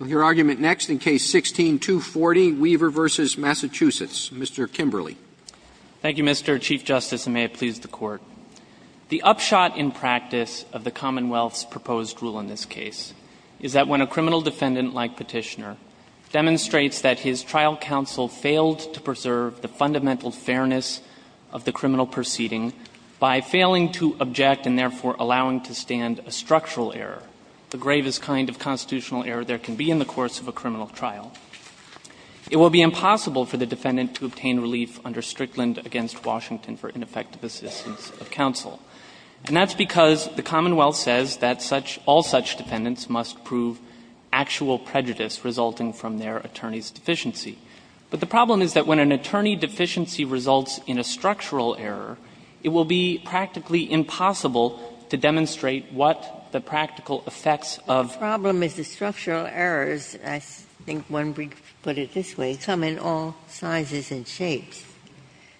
Mr. Kimberley. Thank you, Mr. Chief Justice, and may it please the Court. The upshot in practice of the Commonwealth's proposed rule in this case is that when a criminal defendant, like Petitioner, demonstrates that his trial counsel failed to preserve the fundamental fairness of the criminal proceeding by failing to object and therefore allowing to stand a structural error, the gravest kind of constitutional error in the history of a criminal trial, it will be impossible for the defendant to obtain relief under Strickland v. Washington for ineffective assistance of counsel. And that's because the Commonwealth says that such — all such defendants must prove actual prejudice resulting from their attorney's deficiency. But the problem is that when an attorney deficiency results in a structural error, it will be practically impossible to demonstrate what the practical effects of — The problem is the structural errors, I think when we put it this way, come in all sizes and shapes.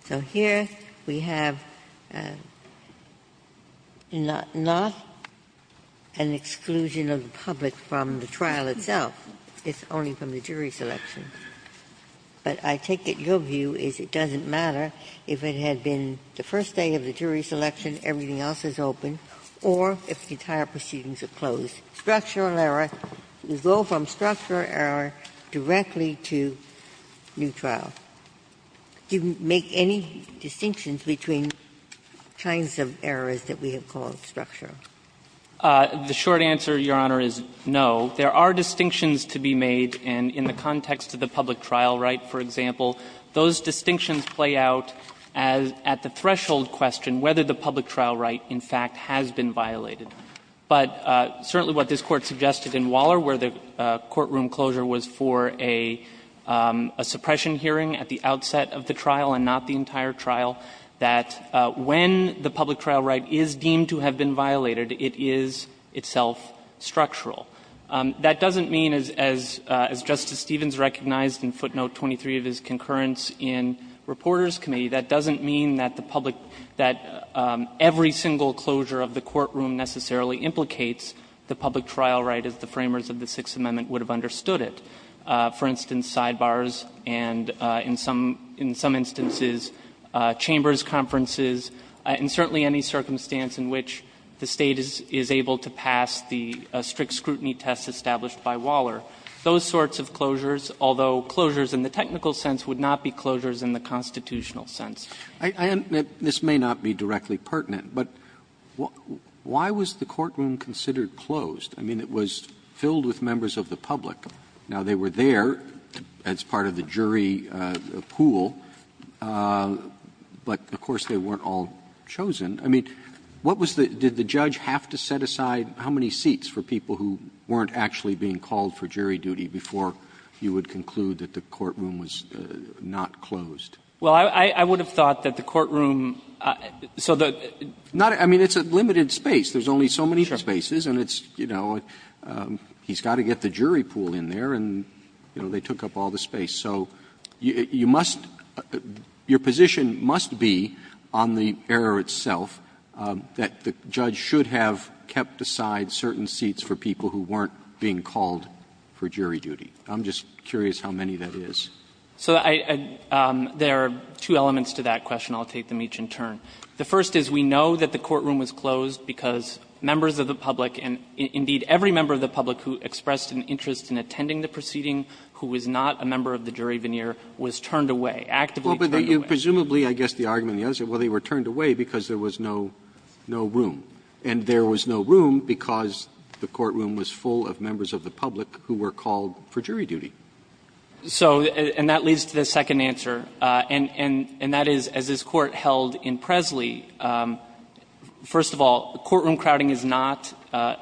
So here we have not an exclusion of the public from the trial itself. It's only from the jury selection. But I take it your view is it doesn't matter if it had been the first day of the jury selection, everything else is open, or if the entire proceedings are closed. Structural error will go from structural error directly to new trial. Do you make any distinctions between kinds of errors that we have called structural? The short answer, Your Honor, is no. There are distinctions to be made, and in the context of the public trial right, for example, those distinctions play out at the But certainly what this Court suggested in Waller, where the courtroom closure was for a suppression hearing at the outset of the trial and not the entire trial, that when the public trial right is deemed to have been violated, it is itself structural. That doesn't mean, as Justice Stevens recognized in footnote 23 of his concurrence in Reporters' Committee, that doesn't mean that the public — that every single closure of the courtroom necessarily implicates the public trial right as the framers of the Sixth Amendment would have understood it. For instance, sidebars and, in some instances, chambers conferences, and certainly any circumstance in which the State is able to pass the strict scrutiny test established by Waller, those sorts of closures, although closures in the technical sense would not be closures in the constitutional sense. Roberts This may not be directly pertinent, but why was the courtroom considered closed? I mean, it was filled with members of the public. Now, they were there as part of the jury pool, but of course they weren't all chosen. I mean, what was the — did the judge have to set aside how many seats for people who weren't actually being called for jury duty before you would conclude that the courtroom was not closed? Well, I would have thought that the courtroom — so the — Not — I mean, it's a limited space. There's only so many spaces, and it's, you know, he's got to get the jury pool in there, and, you know, they took up all the space. So you must — your position must be, on the error itself, that the judge should have kept aside certain seats for people who weren't being called for jury duty. I'm just curious how many that is. So I — there are two elements to that question. I'll take them each in turn. The first is we know that the courtroom was closed because members of the public and, indeed, every member of the public who expressed an interest in attending the proceeding who was not a member of the jury veneer was turned away, actively turned away. Well, but you presumably, I guess the argument on the other side, well, they were turned away because there was no room, and there was no room because the courtroom was full of members of the public who were called for jury duty. So — and that leads to the second answer, and that is, as this Court held in Presley, first of all, courtroom crowding is not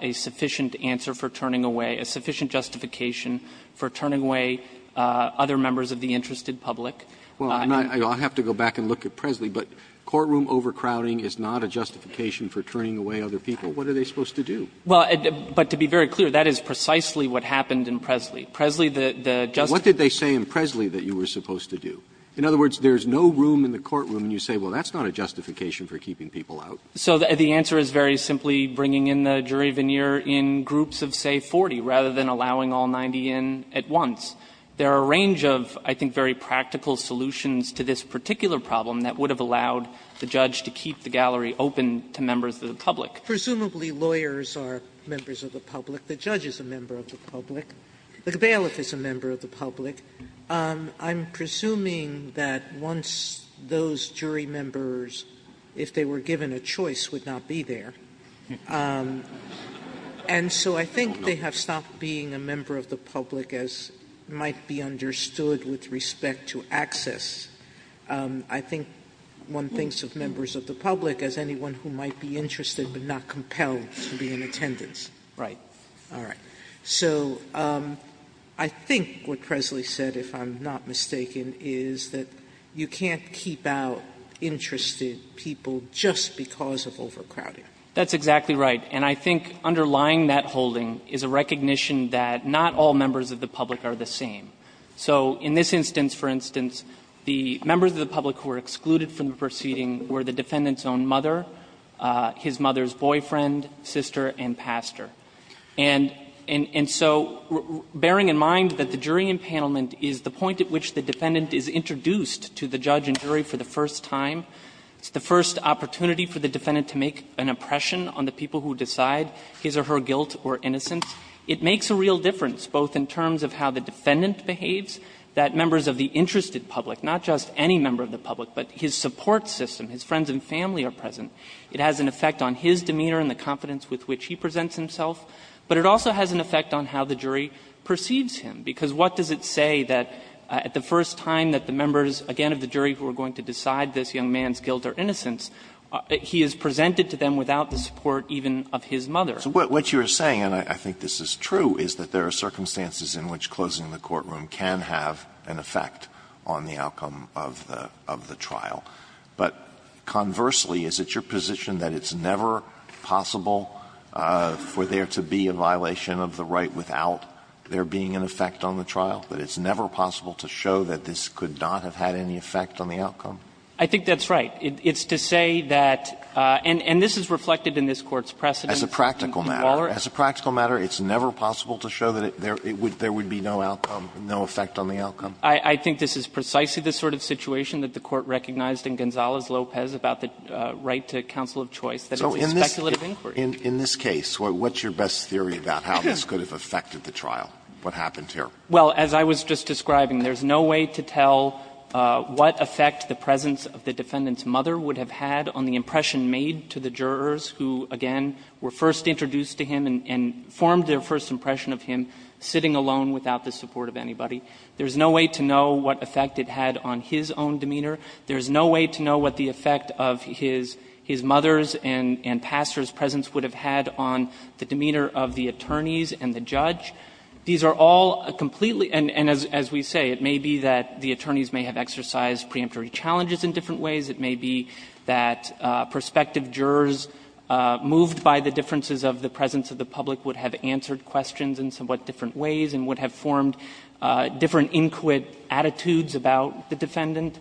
a sufficient answer for turning away, a sufficient justification for turning away other members of the interested public. Well, I'm not — I'll have to go back and look at Presley, but courtroom overcrowding is not a justification for turning away other people. What are they supposed to do? Well, but to be very clear, that is precisely what happened in Presley. Presley, the — the just— Roberts What did they say in Presley that you were supposed to do? In other words, there is no room in the courtroom and you say, well, that's not a justification for keeping people out. So the answer is very simply bringing in the jury veneer in groups of, say, 40, rather than allowing all 90 in at once. There are a range of, I think, very practical solutions to this particular problem that would have allowed the judge to keep the gallery open to members of the public. Presumably, lawyers are members of the public. The judge is a member of the public. The bailiff is a member of the public. I'm presuming that once those jury members, if they were given a choice, would not be there. And so I think they have stopped being a member of the public as might be understood with respect to access. I think one thinks of members of the public as anyone who might be interested but not compelled to be in attendance. Right. All right. So I think what Presley said, if I'm not mistaken, is that you can't keep out interested people just because of overcrowding. That's exactly right. And I think underlying that holding is a recognition that not all members of the public are the same. So in this instance, for instance, the members of the public who were excluded from the proceeding were the defendant's own mother, his mother's boyfriend, sister, and pastor. And so bearing in mind that the jury impanelment is the point at which the defendant is introduced to the judge and jury for the first time, it's the first opportunity for the defendant to make an impression on the people who decide his or her guilt or innocence, it makes a real difference both in terms of how the defendant behaves, that members of the interested public, not just any member of the public, but his support system, his friends and family are present. It has an effect on his demeanor and the confidence with which he presents himself. But it also has an effect on how the jury perceives him, because what does it say that at the first time that the members, again, of the jury who are going to decide this young man's guilt or innocence, he is presented to them without the support even of his mother? Alito So what you are saying, and I think this is true, is that there are circumstances in which closing the courtroom can have an effect on the outcome of the trial. But conversely, is it your position that it's never possible for there to be a violation of the right without there being an effect on the trial, that it's never possible to show that this could not have had any effect on the outcome? I think that's right. It's to say that and this is reflected in this Court's precedent. As a practical matter. As a practical matter, it's never possible to show that there would be no outcome, no effect on the outcome? I think this is precisely the sort of situation that the Court recognized in Gonzalez-Lopez about the right to counsel of choice, that it's a speculative inquiry. So in this case, what's your best theory about how this could have affected the trial, what happened here? Well, as I was just describing, there's no way to tell what effect the presence of the defendant's mother would have had on the impression made to the jurors who, again, were first introduced to him and formed their first impression of him sitting alone without the support of anybody. There's no way to know what effect it had on his own demeanor. There's no way to know what the effect of his mother's and pastor's presence would have had on the demeanor of the attorneys and the judge. These are all completely and as we say, it may be that the attorneys may have exercised preemptory challenges in different ways. It may be that prospective jurors moved by the differences of the presence of the public would have answered questions in somewhat different ways and would have formed different inquit attitudes about the defendant.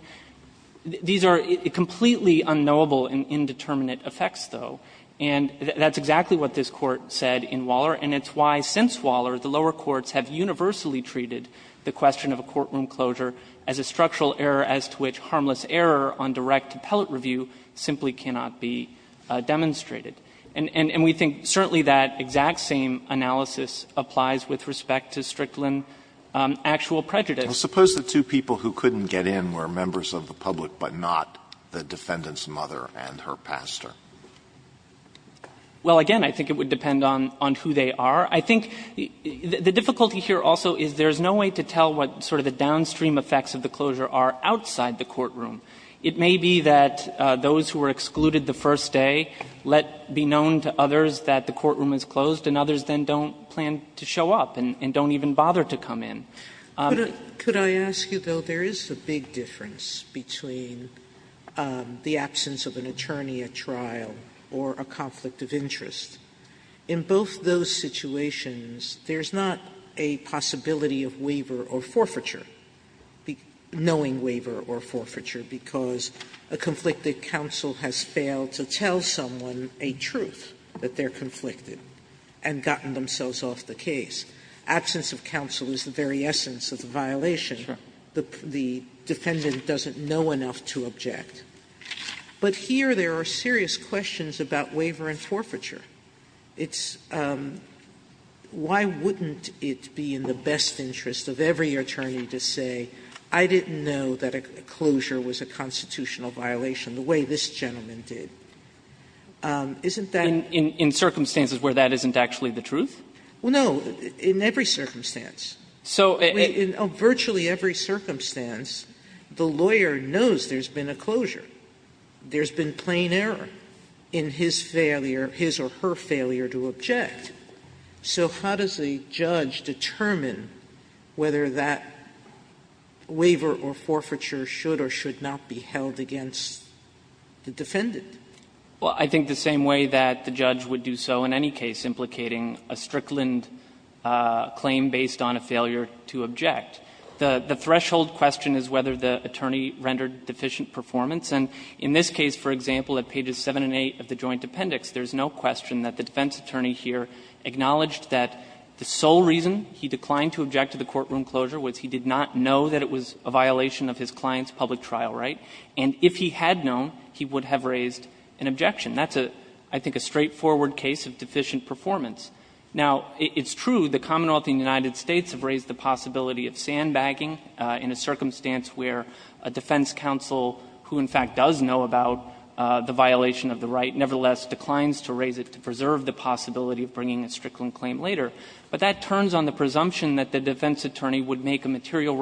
These are completely unknowable and indeterminate effects, though. And that's exactly what this Court said in Waller, and it's why since Waller, the lower courts have universally treated the question of a courtroom closure as a structural error as to which harmless error on direct appellate review simply cannot be demonstrated. And we think certainly that exact same analysis applies with respect to Strickland actual prejudice. Alitoso, suppose the two people who couldn't get in were members of the public but not the defendant's mother and her pastor. Well, again, I think it would depend on who they are. I think the difficulty here also is there's no way to tell what sort of the downstream effects of the closure are outside the courtroom. It may be that those who were excluded the first day let be known to others that the courtroom is closed and others then don't plan to show up and don't even bother to come in. Sotomayor, could I ask you, though, there is a big difference between the absence of an attorney at trial or a conflict of interest. In both those situations, there's not a possibility of waiver or forfeiture. Knowing waiver or forfeiture, because a conflicted counsel has failed to tell someone a truth that they're conflicted and gotten themselves off the case. Absence of counsel is the very essence of the violation. The defendant doesn't know enough to object. But here there are serious questions about waiver and forfeiture. It's why wouldn't it be in the best interest of every attorney to say, I didn't know that a closure was a constitutional violation the way this gentleman did. Isn't that? In circumstances where that isn't actually the truth? No. In every circumstance. So in virtually every circumstance, the lawyer knows there's been a closure. There's been plain error in his failure, his or her failure to object. So how does a judge determine whether that waiver or forfeiture should or should not be held against the defendant? Well, I think the same way that the judge would do so in any case implicating a Strickland claim based on a failure to object. The threshold question is whether the attorney rendered deficient performance. And in this case, for example, at pages 7 and 8 of the joint appendix, there's no question that the defense attorney here acknowledged that the sole reason he declined to object to the courtroom closure was he did not know that it was a violation of his client's public trial right. And if he had known, he would have raised an objection. That's a, I think, a straightforward case of deficient performance. Now, it's true the Commonwealth and the United States have raised the possibility of sandbagging in a circumstance where a defense counsel who in fact does know about the violation of the right nevertheless declines to raise it to preserve the possibility of bringing a Strickland claim later. But that turns on the presumption that the defense attorney would make a material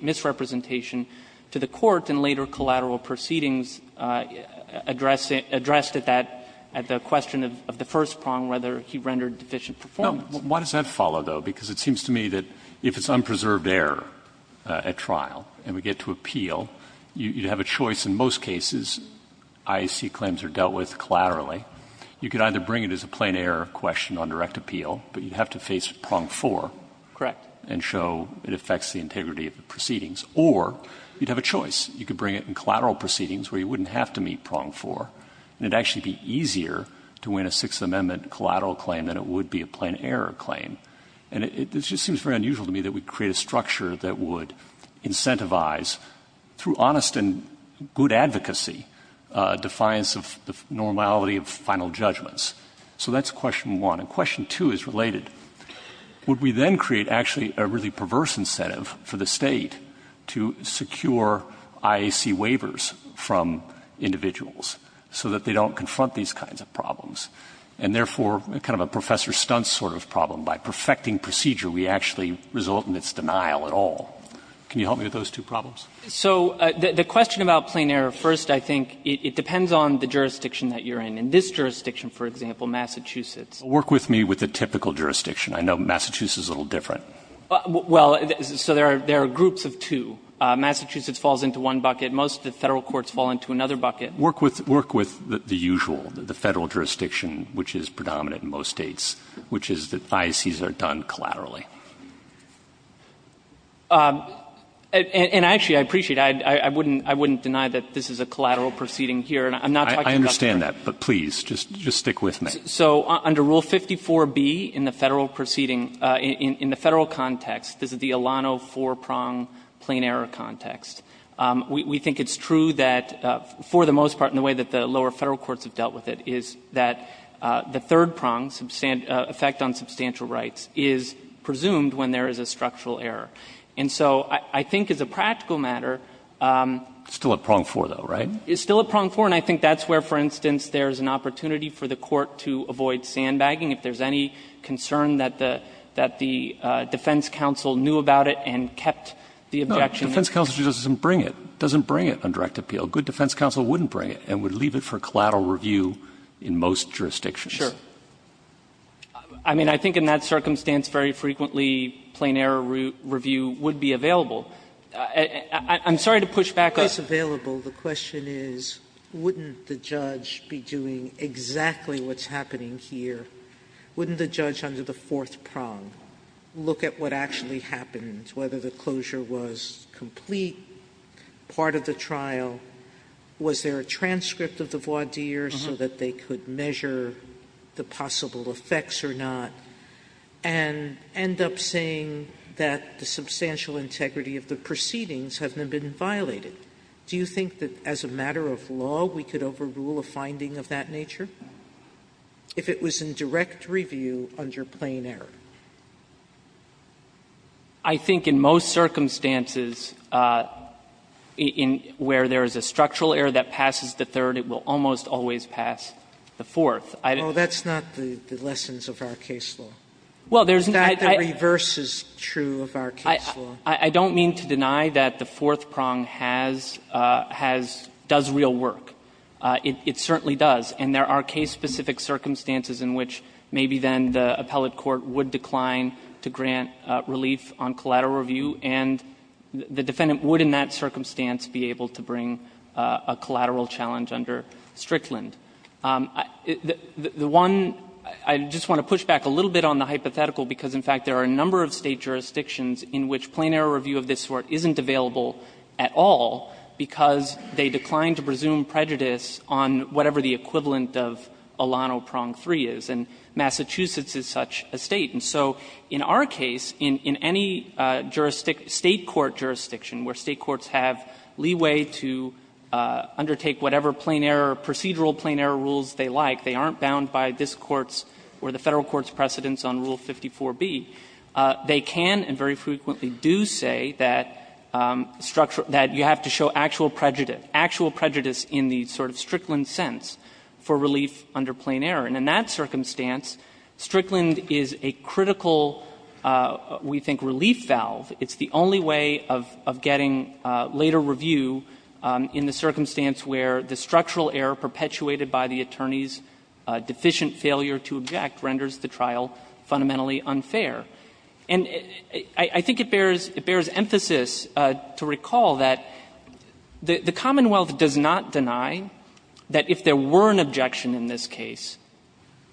misrepresentation to the court in later collateral proceedings addressed at that, at the question of the first prong, whether he rendered deficient performance. Roberts, why does that follow, though? Because it seems to me that if it's unpreserved error at trial and we get to appeal, you'd have a choice in most cases, IAC claims are dealt with collaterally. You could either bring it as a plain error question on direct appeal, but you'd have to face prong 4. Correct. And show it affects the integrity of the proceedings. Or you'd have a choice. You could bring it in collateral proceedings where you wouldn't have to meet prong 4, and it'd actually be easier to win a Sixth Amendment collateral claim than it would be a plain error claim. And it just seems very unusual to me that we create a structure that would incentivize through honest and good advocacy, defiance of the normality of final judgments. So that's question one. And question two is related. Would we then create actually a really perverse incentive for the State to secure IAC waivers from individuals? So that they don't confront these kinds of problems. And therefore, kind of a Professor Stuntz sort of problem, by perfecting procedure, we actually result in its denial at all. Can you help me with those two problems? So the question about plain error, first, I think it depends on the jurisdiction that you're in. In this jurisdiction, for example, Massachusetts. Work with me with the typical jurisdiction. I know Massachusetts is a little different. Well, so there are groups of two. Massachusetts falls into one bucket. Most of the Federal courts fall into another bucket. Work with the usual, the Federal jurisdiction, which is predominant in most States. Which is that IACs are done collaterally. And actually, I appreciate it. I wouldn't deny that this is a collateral proceeding here. I'm not talking about the Federal. I understand that. But please, just stick with me. So under Rule 54B in the Federal proceeding, in the Federal context, this is the Alano four-prong plain error context. We think it's true that, for the most part, in the way that the lower Federal courts have dealt with it, is that the third prong, effect on substantial rights, is presumed when there is a structural error. And so I think as a practical matter they're still at prong four, though, right? It's still at prong four, and I think that's where, for instance, there's an opportunity for the court to avoid sandbagging if there's any concern that the defense counsel knew about it and kept the objection. But the defense counsel just doesn't bring it, doesn't bring it on direct appeal. Good defense counsel wouldn't bring it and would leave it for collateral review in most jurisdictions. Sure. I mean, I think in that circumstance, very frequently, plain error review would be available. I'm sorry to push back on this. Sotomayor, the question is, wouldn't the judge be doing exactly what's happening here? Wouldn't the judge, under the fourth prong, look at what actually happened, whether the closure was complete, part of the trial, was there a transcript of the voir dire so that they could measure the possible effects or not, and end up saying that the substantial integrity of the proceedings have been violated? Do you think that as a matter of law we could overrule a finding of that nature if it was in direct review under plain error? I think in most circumstances, where there is a structural error that passes the third, it will almost always pass the fourth. Sotomayor, that's not the lessons of our case law. In fact, the reverse is true of our case law. I don't mean to deny that the fourth prong has, has, does real work. It certainly does. And there are case-specific circumstances in which maybe then the appellate court would decline to grant relief on collateral review, and the defendant would, in that circumstance, be able to bring a collateral challenge under Strickland. The one, I just want to push back a little bit on the hypothetical, because in fact, there are a number of State jurisdictions in which plain error review of this sort isn't available at all because they decline to presume prejudice on whatever the equivalent of Alano prong 3 is. And Massachusetts is such a State. And so in our case, in any jurisdiction, State court jurisdiction, where State courts have leeway to undertake whatever plain error, procedural plain error rules they like, they aren't bound by this Court's or the Federal Court's precedents on Rule 54b, they can and very frequently do say that structure, that you have to show actual prejudice, actual prejudice in the sort of Strickland sense for relief under plain error. And in that circumstance, Strickland is a critical, we think, relief valve. It's the only way of getting later review in the circumstance where the structural error perpetuated by the attorney's deficient failure to object renders the trial fundamentally unfair. And I think it bears emphasis to recall that the Commonwealth does not deny that if there were an objection in this case,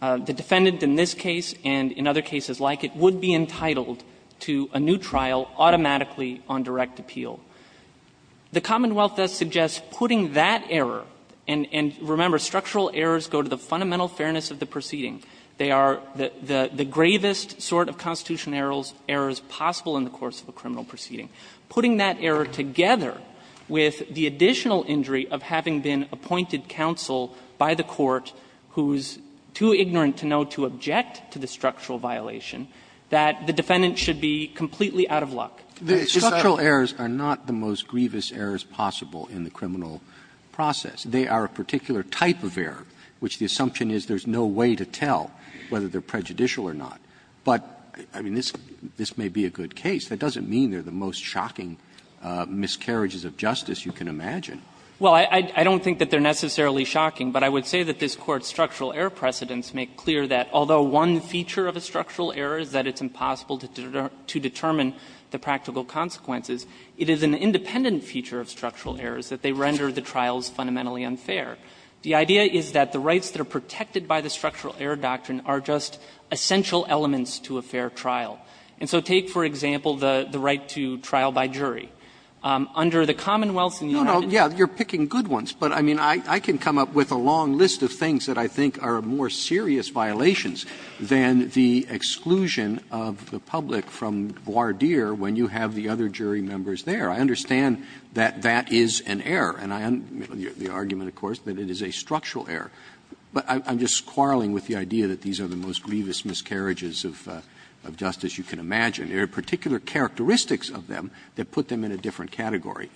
the defendant in this case and in other cases like it would be entitled to a new trial automatically on direct appeal. The Commonwealth does suggest putting that error, and remember, structural errors go to the fundamental fairness of the proceeding. They are the gravest sort of constitutional errors possible in the course of a criminal proceeding. Putting that error together with the additional injury of having been appointed counsel by the Court who's too ignorant to know to object to the structural violation, that the defendant should be completely out of luck. Roberts. Roberts. Roberts. The structural errors are not the most grievous errors possible in the criminal process. They are a particular type of error, which the assumption is there's no way to tell whether they're prejudicial or not. But, I mean, this may be a good case. That doesn't mean they're the most shocking miscarriages of justice you can imagine. Well, I don't think that they're necessarily shocking, but I would say that this Court's structural error precedents make clear that although one feature of a structural error is that it's impossible to determine the practical consequences, it is an independent feature of structural errors that they render the trials fundamentally unfair. The idea is that the rights that are protected by the structural error doctrine are just essential elements to a fair trial. And so take, for example, the right to trial by jury. Under the commonwealths in the United States. Roberts. No, no, yeah, you're picking good ones, but I mean, I can come up with a long list of things that I think are more serious violations than the exclusion of the public from voir dire when you have the other jury members there. I understand that that is an error, and I unmute the argument, of course, that it is a structural error. But I'm just quarreling with the idea that these are the most grievous miscarriages of justice you can imagine. There are particular characteristics of them that put them in a different category.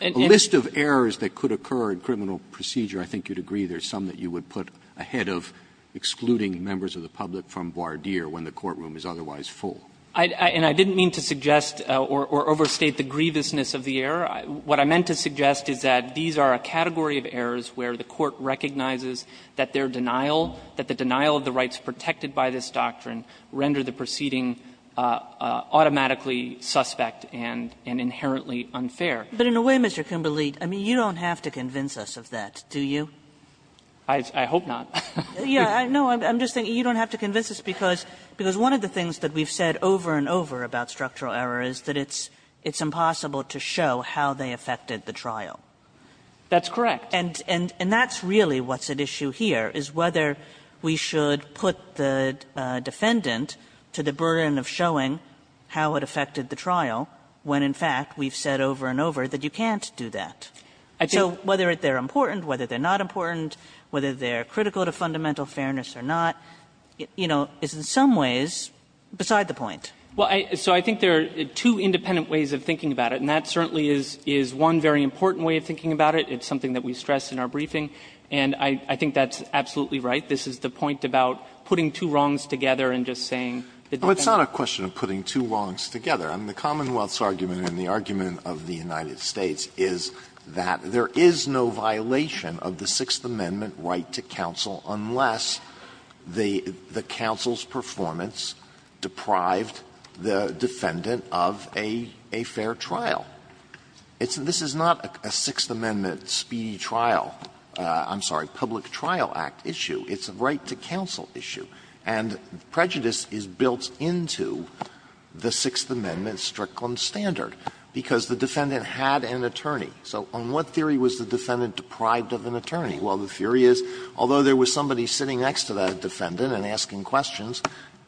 A list of errors that could occur in criminal procedure, I think you'd agree, there are some that you would put ahead of excluding members of the public from voir dire when the courtroom is otherwise full. And I didn't mean to suggest or overstate the grievousness of the error. What I meant to suggest is that these are a category of errors where the Court recognizes that their denial, that the denial of the rights protected by this doctrine render the proceeding automatically suspect and inherently unfair. Kagan, But in a way, Mr. Kimberley, I mean, you don't have to convince us of that, do you? Kimberley, I hope not. Kagan, Yeah, no, I'm just thinking you don't have to convince us because one of the things that we've said over and over about structural error is that it's impossible to show how they affected the trial. Kimberley, That's correct. Kagan, And that's really what's at issue here, is whether we should put the defendant to the burden of showing how it affected the trial when, in fact, we've said over and over that you can't do that. So whether they're important, whether they're not important, whether they're critical to fundamental fairness or not, you know, is in some ways beside the point. Kimberley, Well, so I think there are two independent ways of thinking about it, and that certainly is one very important way of thinking about it. It's something that we stress in our briefing, and I think that's absolutely right. This is the point about putting two wrongs together and just saying that the defendant can't do it. Alito, Well, it's not a question of putting two wrongs together. I mean, the Commonwealth's argument and the argument of the United States is that there is no violation of the Sixth Amendment right to counsel unless the counsel's performance deprived the defendant of a fair trial. This is not a Sixth Amendment speedy trial – I'm sorry, Public Trial Act issue. It's a right to counsel issue. And prejudice is built into the Sixth Amendment Strickland standard, because the defendant had an attorney. So on what theory was the defendant deprived of an attorney? Well, the theory is, although there was somebody sitting next to that defendant and asking questions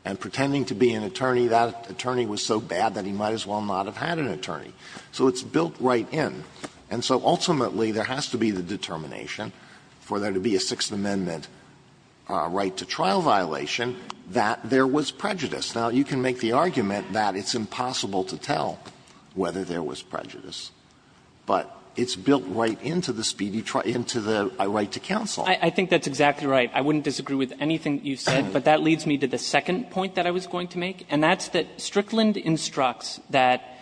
and pretending to be an attorney, that attorney was so bad that he might as well not have had an attorney. So it's built right in. And so ultimately, there has to be the determination for there to be a Sixth Amendment right to trial violation that there was prejudice. Now, you can make the argument that it's impossible to tell whether there was prejudice, but it's built right into the speedy trial – into the right to counsel. I think that's exactly right. I wouldn't disagree with anything you said, but that leads me to the second point that I was going to make, and that's that Strickland instructs that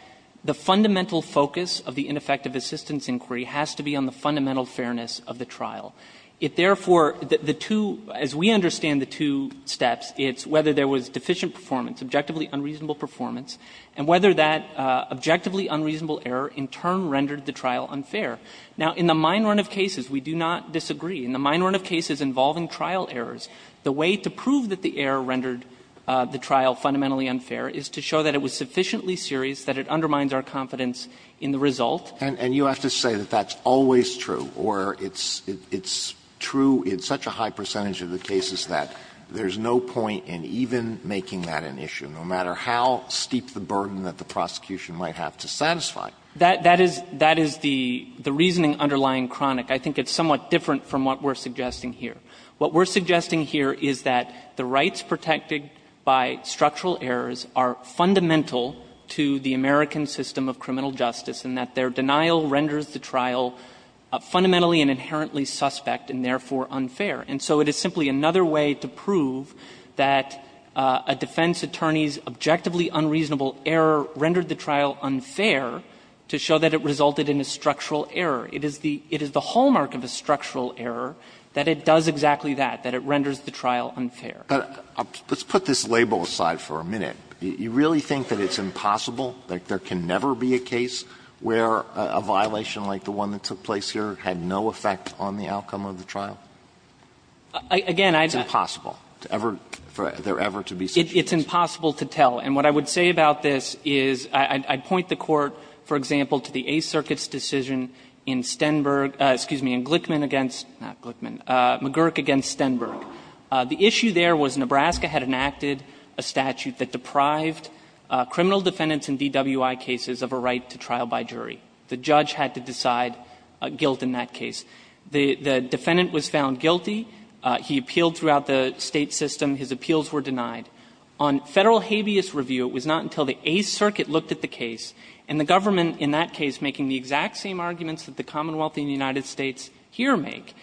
the fundamental focus of the ineffective assistance inquiry has to be on the fundamental fairness of the trial. If, therefore, the two – as we understand the two steps, it's whether there was deficient performance, objectively unreasonable performance, and whether that objectively unreasonable error in turn rendered the trial unfair. Now, in the mine run of cases, we do not disagree. In the mine run of cases involving trial errors, the way to prove that the error rendered the trial fundamentally unfair is to show that it was sufficiently serious, that it undermines our confidence in the result. Alito And you have to say that that's always true, or it's true in such a high percentage of the cases that there's no point in even making that an issue, no matter how steep the burden that the prosecution might have to satisfy. That is the reasoning underlying Cronic. I think it's somewhat different from what we're suggesting here. What we're suggesting here is that the rights protected by structural errors are fundamental to the American system of criminal justice, and that their denial renders the trial fundamentally and inherently suspect and, therefore, unfair. And so it is simply another way to prove that a defense attorney's objectively unreasonable error rendered the trial unfair to show that it resulted in a structural error. It is the – it is the hallmark of a structural error that it does exactly that, that it renders the trial unfair. Alito But let's put this label aside for a minute. You really think that it's impossible, that there can never be a case where a violation like the one that took place here had no effect on the outcome of the trial? It's impossible to ever – for there ever to be such a case? It's impossible to tell. And what I would say about this is I'd point the Court, for example, to the Eighth Circuit's decision in Stenberg – excuse me, in Glickman against – not Glickman – McGurk against Stenberg. The issue there was Nebraska had enacted a statute that deprived criminal defendants in DWI cases of a right to trial by jury. The judge had to decide guilt in that case. The defendant was found guilty. He appealed throughout the State system. His appeals were denied. On Federal habeas review, it was not until the Eighth Circuit looked at the case, and the government in that case making the exact same arguments that the Commonwealth and the United States here make.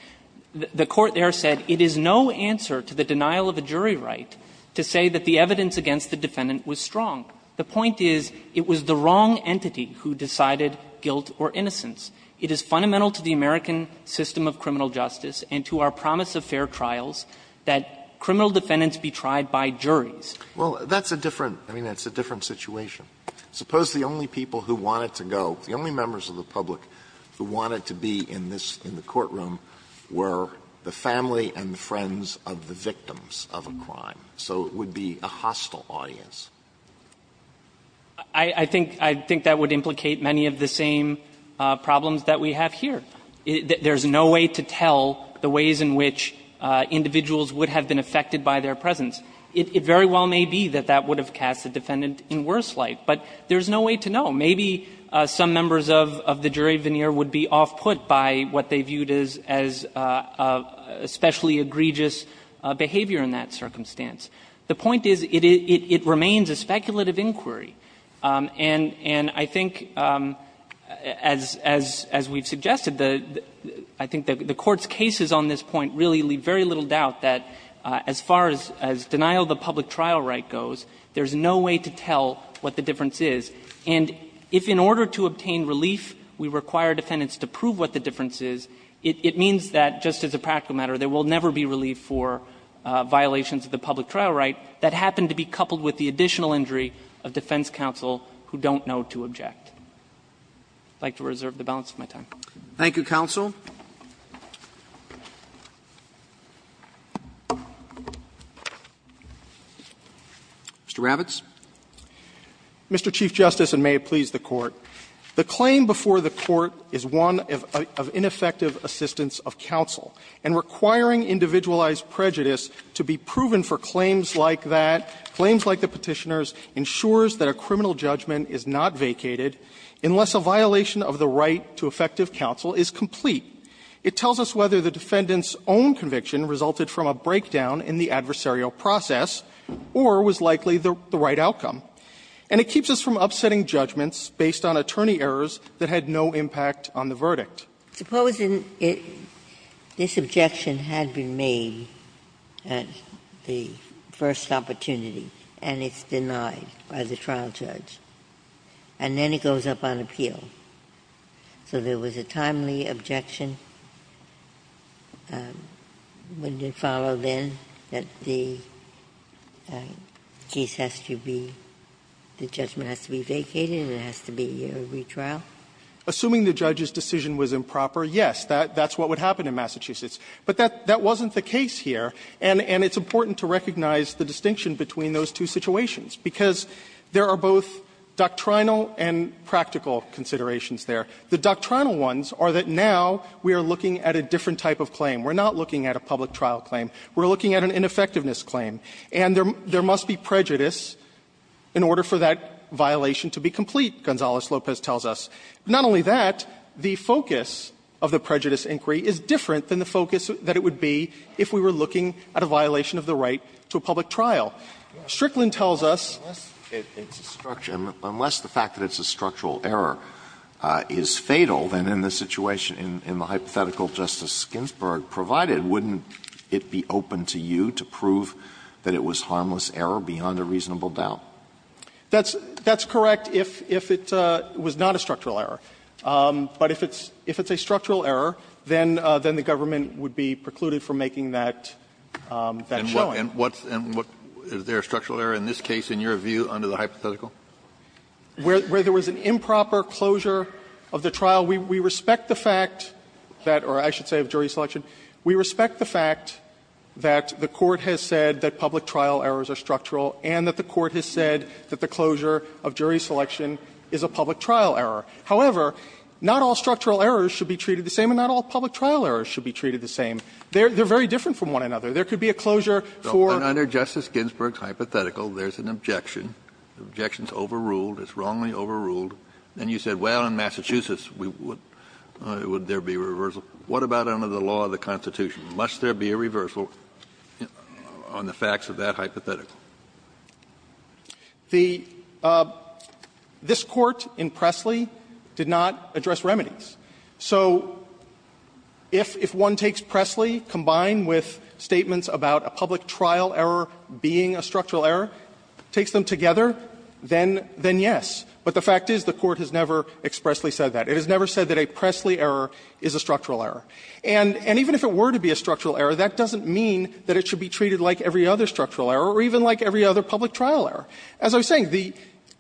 The Court there said it is no answer to the denial of a jury right to say that the evidence against the defendant was strong. The point is it was the wrong entity who decided guilt or innocence. It is fundamental to the American system of criminal justice and to our promise of fair trials that criminal defendants be tried by juries. Alitono, that's a different – I mean, that's a different situation. Suppose the only people who wanted to go, the only members of the public who wanted to be in this, in the courtroom, were the family and friends of the victims of a crime. So it would be a hostile audience. I think that would implicate many of the same problems that we have here. There's no way to tell the ways in which individuals would have been affected by their presence. It very well may be that that would have cast the defendant in worse light, but there is no way to know. Maybe some members of the jury veneer would be off-put by what they viewed as a specially egregious behavior in that circumstance. The point is it remains a speculative inquiry, and I think as we've suggested, I think the Court's cases on this point really leave very little doubt that as far as denial of the public trial right goes, there's no way to tell what the difference is. And if in order to obtain relief we require defendants to prove what the difference is, it means that just as a practical matter, there will never be relief for violations of the public trial right that happen to be coupled with the additional injury of defense counsel who don't know to object. I'd like to reserve the balance of my time. Roberts. Roberts. Thank you, counsel. Mr. Ravitz. Mr. Chief Justice, and may it please the Court, the claim before the Court is one of ineffective assistance of counsel, and requiring individualized prejudice to be proven for claims like that, claims like the Petitioner's, ensures that a criminal judgment is not vacated unless a violation of the right to effective counsel is complete. It tells us whether the defendant's own conviction resulted from a breakdown in the adversarial process, or was likely the right outcome. And it keeps us from upsetting judgments based on attorney errors that had no impact on the verdict. Supposing this objection had been made at the first opportunity, and it's denied by the trial judge, and then it goes up on appeal. So there was a timely objection, wouldn't it follow then that the case has to be the judgment has to be vacated and it has to be a retrial? Assuming the judge's decision was improper, yes, that's what would happen in Massachusetts. But that wasn't the case here, and it's important to recognize the distinction between those two situations, because there are both doctrinal and practical considerations there. The doctrinal ones are that now we are looking at a different type of claim. We're not looking at a public trial claim. We're looking at an ineffectiveness claim. And there must be prejudice in order for that violation to be complete, Gonzales-Lopez tells us. Not only that, the focus of the prejudice inquiry is different than the focus that it would be if we were looking at a violation of the right to a public trial. Strickland tells us unless it's a structure, unless the fact that it's a structural error is fatal, then in the situation, in the hypothetical Justice Ginsburg provided, wouldn't it be open to you to prove that it was harmless error beyond a reasonable doubt? That's correct if it was not a structural error. But if it's a structural error, then the government would be precluded from making that showing. And what's the structural error in this case, in your view, under the hypothetical? Where there was an improper closure of the trial, we respect the fact that or I should say of jury selection, we respect the fact that the Court has said that public trial errors are structural and that the Court has said that the closure of jury selection is a public trial error. However, not all structural errors should be treated the same and not all public trial errors should be treated the same. They're very different from one another. There could be a closure for the court. Kennedy, if the Constitution is overruled, it's wrongly overruled, and you said, well, in Massachusetts, would there be a reversal, what about under the law of the Constitution? Must there be a reversal on the facts of that hypothetical? The this Court in Pressley did not address remedies. So if one takes Pressley combined with statements about a public trial error being a structural error, takes them together, then yes. But the fact is the Court has never expressly said that. It has never said that a Pressley error is a structural error. And even if it were to be a structural error, that doesn't mean that it should be treated like every other structural error or even like every other public trial error. As I was saying, the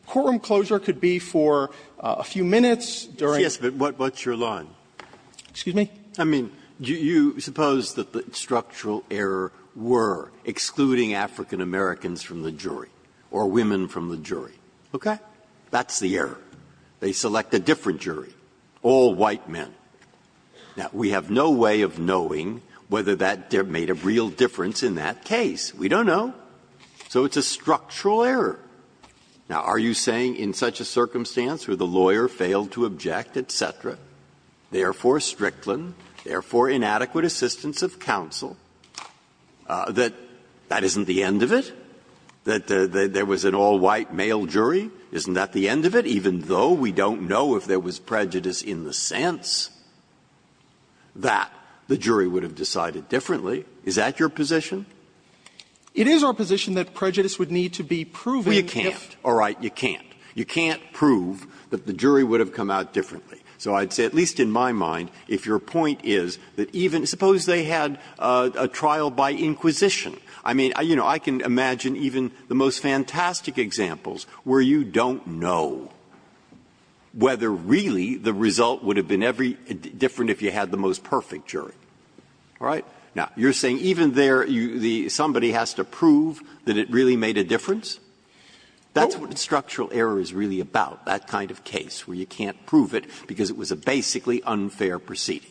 courtroom closure could be for a few minutes during the Sotomayor. Breyer, what's your line? I mean, do you suppose that the structural error were excluding African-Americans from the jury or women from the jury? Okay. That's the error. They select a different jury, all white men. Now, we have no way of knowing whether that made a real difference in that case. We don't know. So it's a structural error. Now, are you saying in such a circumstance where the lawyer failed to object, et cetera, therefore Strickland, therefore inadequate assistance of counsel, that that isn't the end of it? That there was an all-white male jury? Isn't that the end of it? Even though we don't know if there was prejudice in the sense that the jury would have decided differently, is that your position? It is our position that prejudice would need to be proven if the jury would have come out differently. So I'd say, at least in my mind, if your point is that even – suppose they had a trial by inquisition. I mean, you know, I can imagine even the most fantastic examples where you don't know whether really the result would have been every – different if you had the most perfect jury. All right? Now, you're saying even there, somebody has to prove that it really made a difference? That's what structural error is really about, that kind of case, where you can't prove it because it was a basically unfair proceeding.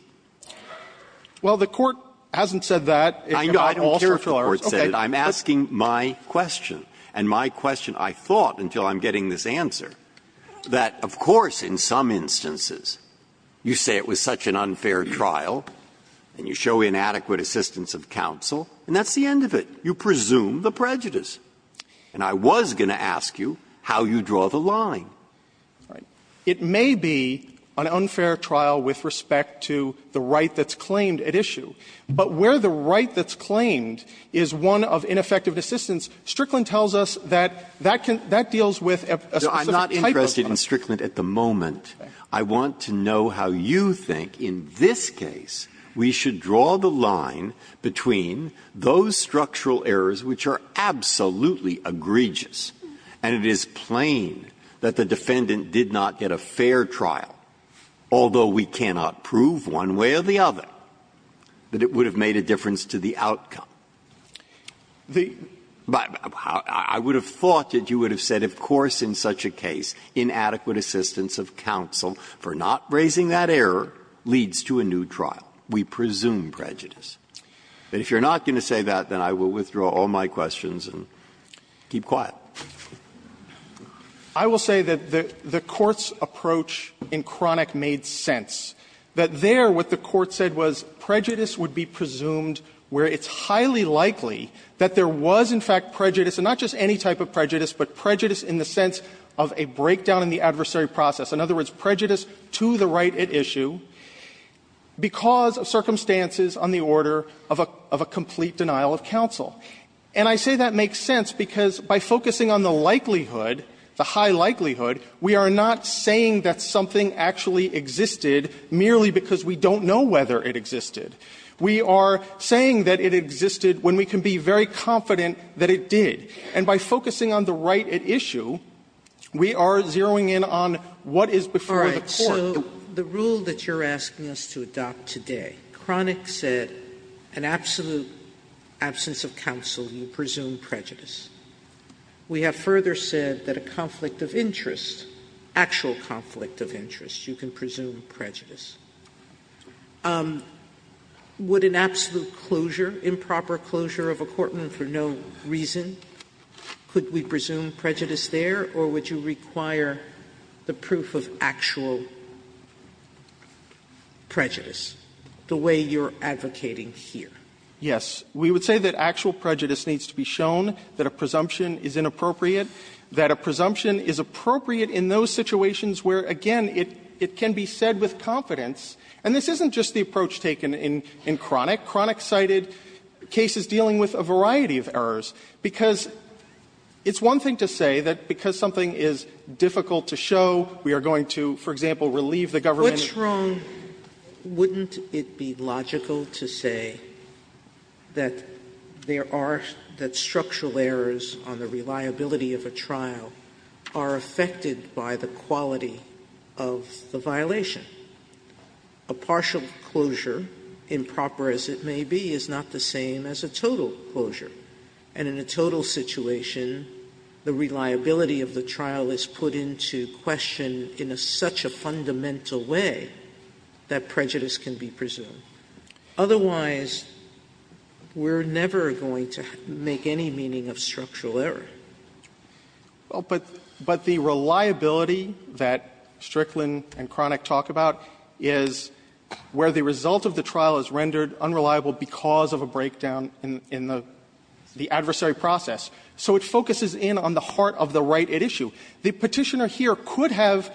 Well, the Court hasn't said that. Breyer, I don't care if the Court said it. I'm asking my question, and my question, I thought until I'm getting this answer, that of course in some instances you say it was such an unfair trial and you show inadequate assistance of counsel, and that's the end of it. You presume the prejudice. And I was going to ask you how you draw the line. It may be an unfair trial with respect to the right that's claimed at issue, but where the right that's claimed is one of ineffective assistance, Strickland tells us that that can – that deals with a specific type of – No, I'm not interested in Strickland at the moment. I want to know how you think in this case we should draw the line between those structural errors which are absolutely egregious, and it is plain that the defendant did not get a fair trial, although we cannot prove one way or the other that it would have made a difference to the outcome. The – I would have thought that you would have said, of course in such a case, inadequate assistance of counsel for not raising that error leads to a new trial. We presume prejudice. And if you're not going to say that, then I will withdraw all my questions and keep quiet. I will say that the Court's approach in Cronick made sense, that there what the Court said was prejudice would be presumed where it's highly likely that there was in fact prejudice, and not just any type of prejudice, but prejudice in the sense of a breakdown in the adversary process. In other words, prejudice to the right at issue because of circumstances on the order of a complete denial of counsel. And I say that makes sense because by focusing on the likelihood, the high likelihood, we are not saying that something actually existed merely because we don't know whether it existed. We are saying that it existed when we can be very confident that it did. And by focusing on the right at issue, we are zeroing in on what is before the Court. Sotomayor, the rule that you're asking us to adopt today, Cronick said an absolute absence of counsel, you presume prejudice. We have further said that a conflict of interest, actual conflict of interest, you can presume prejudice. Would an absolute closure, improper closure of a court room for no reason, could we presume prejudice there, or would you require the proof of actual prejudice the way you're advocating here? Yes. We would say that actual prejudice needs to be shown, that a presumption is inappropriate, that a presumption is appropriate in those situations where, again, it can be said with confidence. And this isn't just the approach taken in Cronick. Cronick cited cases dealing with a variety of errors because it's one thing to say that because something is difficult to show, we are going to, for example, relieve the government. What's wrong, wouldn't it be logical to say that there are, that structural errors on the reliability of a trial are affected by the quality of the violation? A partial closure, improper as it may be, is not the same as a total closure, and in a total situation, the reliability of the trial is put into question in such a fundamental way that prejudice can be presumed. Otherwise, we're never going to make any meaning of structural error. Well, but the reliability that Strickland and Cronick talk about is where the result of the trial is rendered unreliable because of a breakdown in the adversary process. So it focuses in on the heart of the right at issue. The Petitioner here could have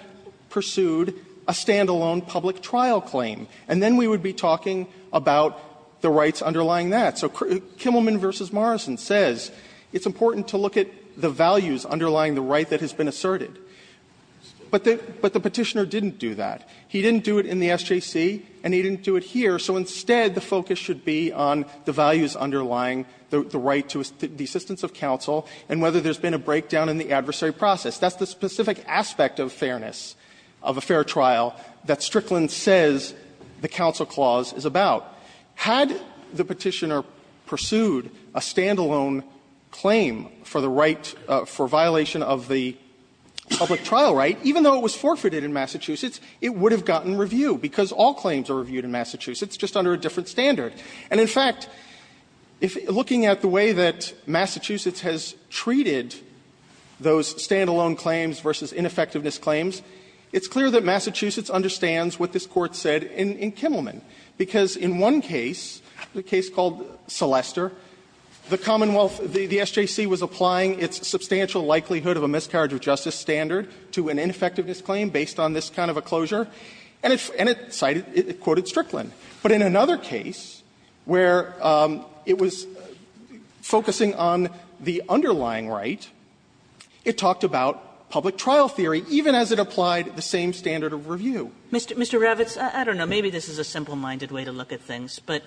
pursued a stand-alone public trial claim, and then we would be talking about the rights underlying that. So Kimmelman v. Morrison says it's important to look at the values underlying the right that has been asserted. But the Petitioner didn't do that. He didn't do it in the SJC, and he didn't do it here, so instead the focus should be on the values underlying the right to the assistance of counsel and whether there's been a breakdown in the adversary process. That's the specific aspect of fairness of a fair trial that Strickland says the counsel clause is about. Had the Petitioner pursued a stand-alone claim for the right for violation of the public trial right, even though it was forfeited in Massachusetts, it would have gotten review because all claims are reviewed in Massachusetts, just under a different standard. And in fact, looking at the way that Massachusetts has treated those stand-alone claims versus ineffectiveness claims, it's clear that Massachusetts understands what this Court said in Kimmelman, because in one case, the case called Celeste, the Commonwealth, the SJC was applying its substantial likelihood of a miscarriage of justice standard to an ineffectiveness claim based on this kind of a closure, and it cited, it quoted Strickland. But in another case where it was focusing on the underlying right, it talked about public trial theory, even as it applied the same standard of review. Kagan. Kagan. Mr. Ravitz, I don't know. Maybe this is a simple-minded way to look at things, but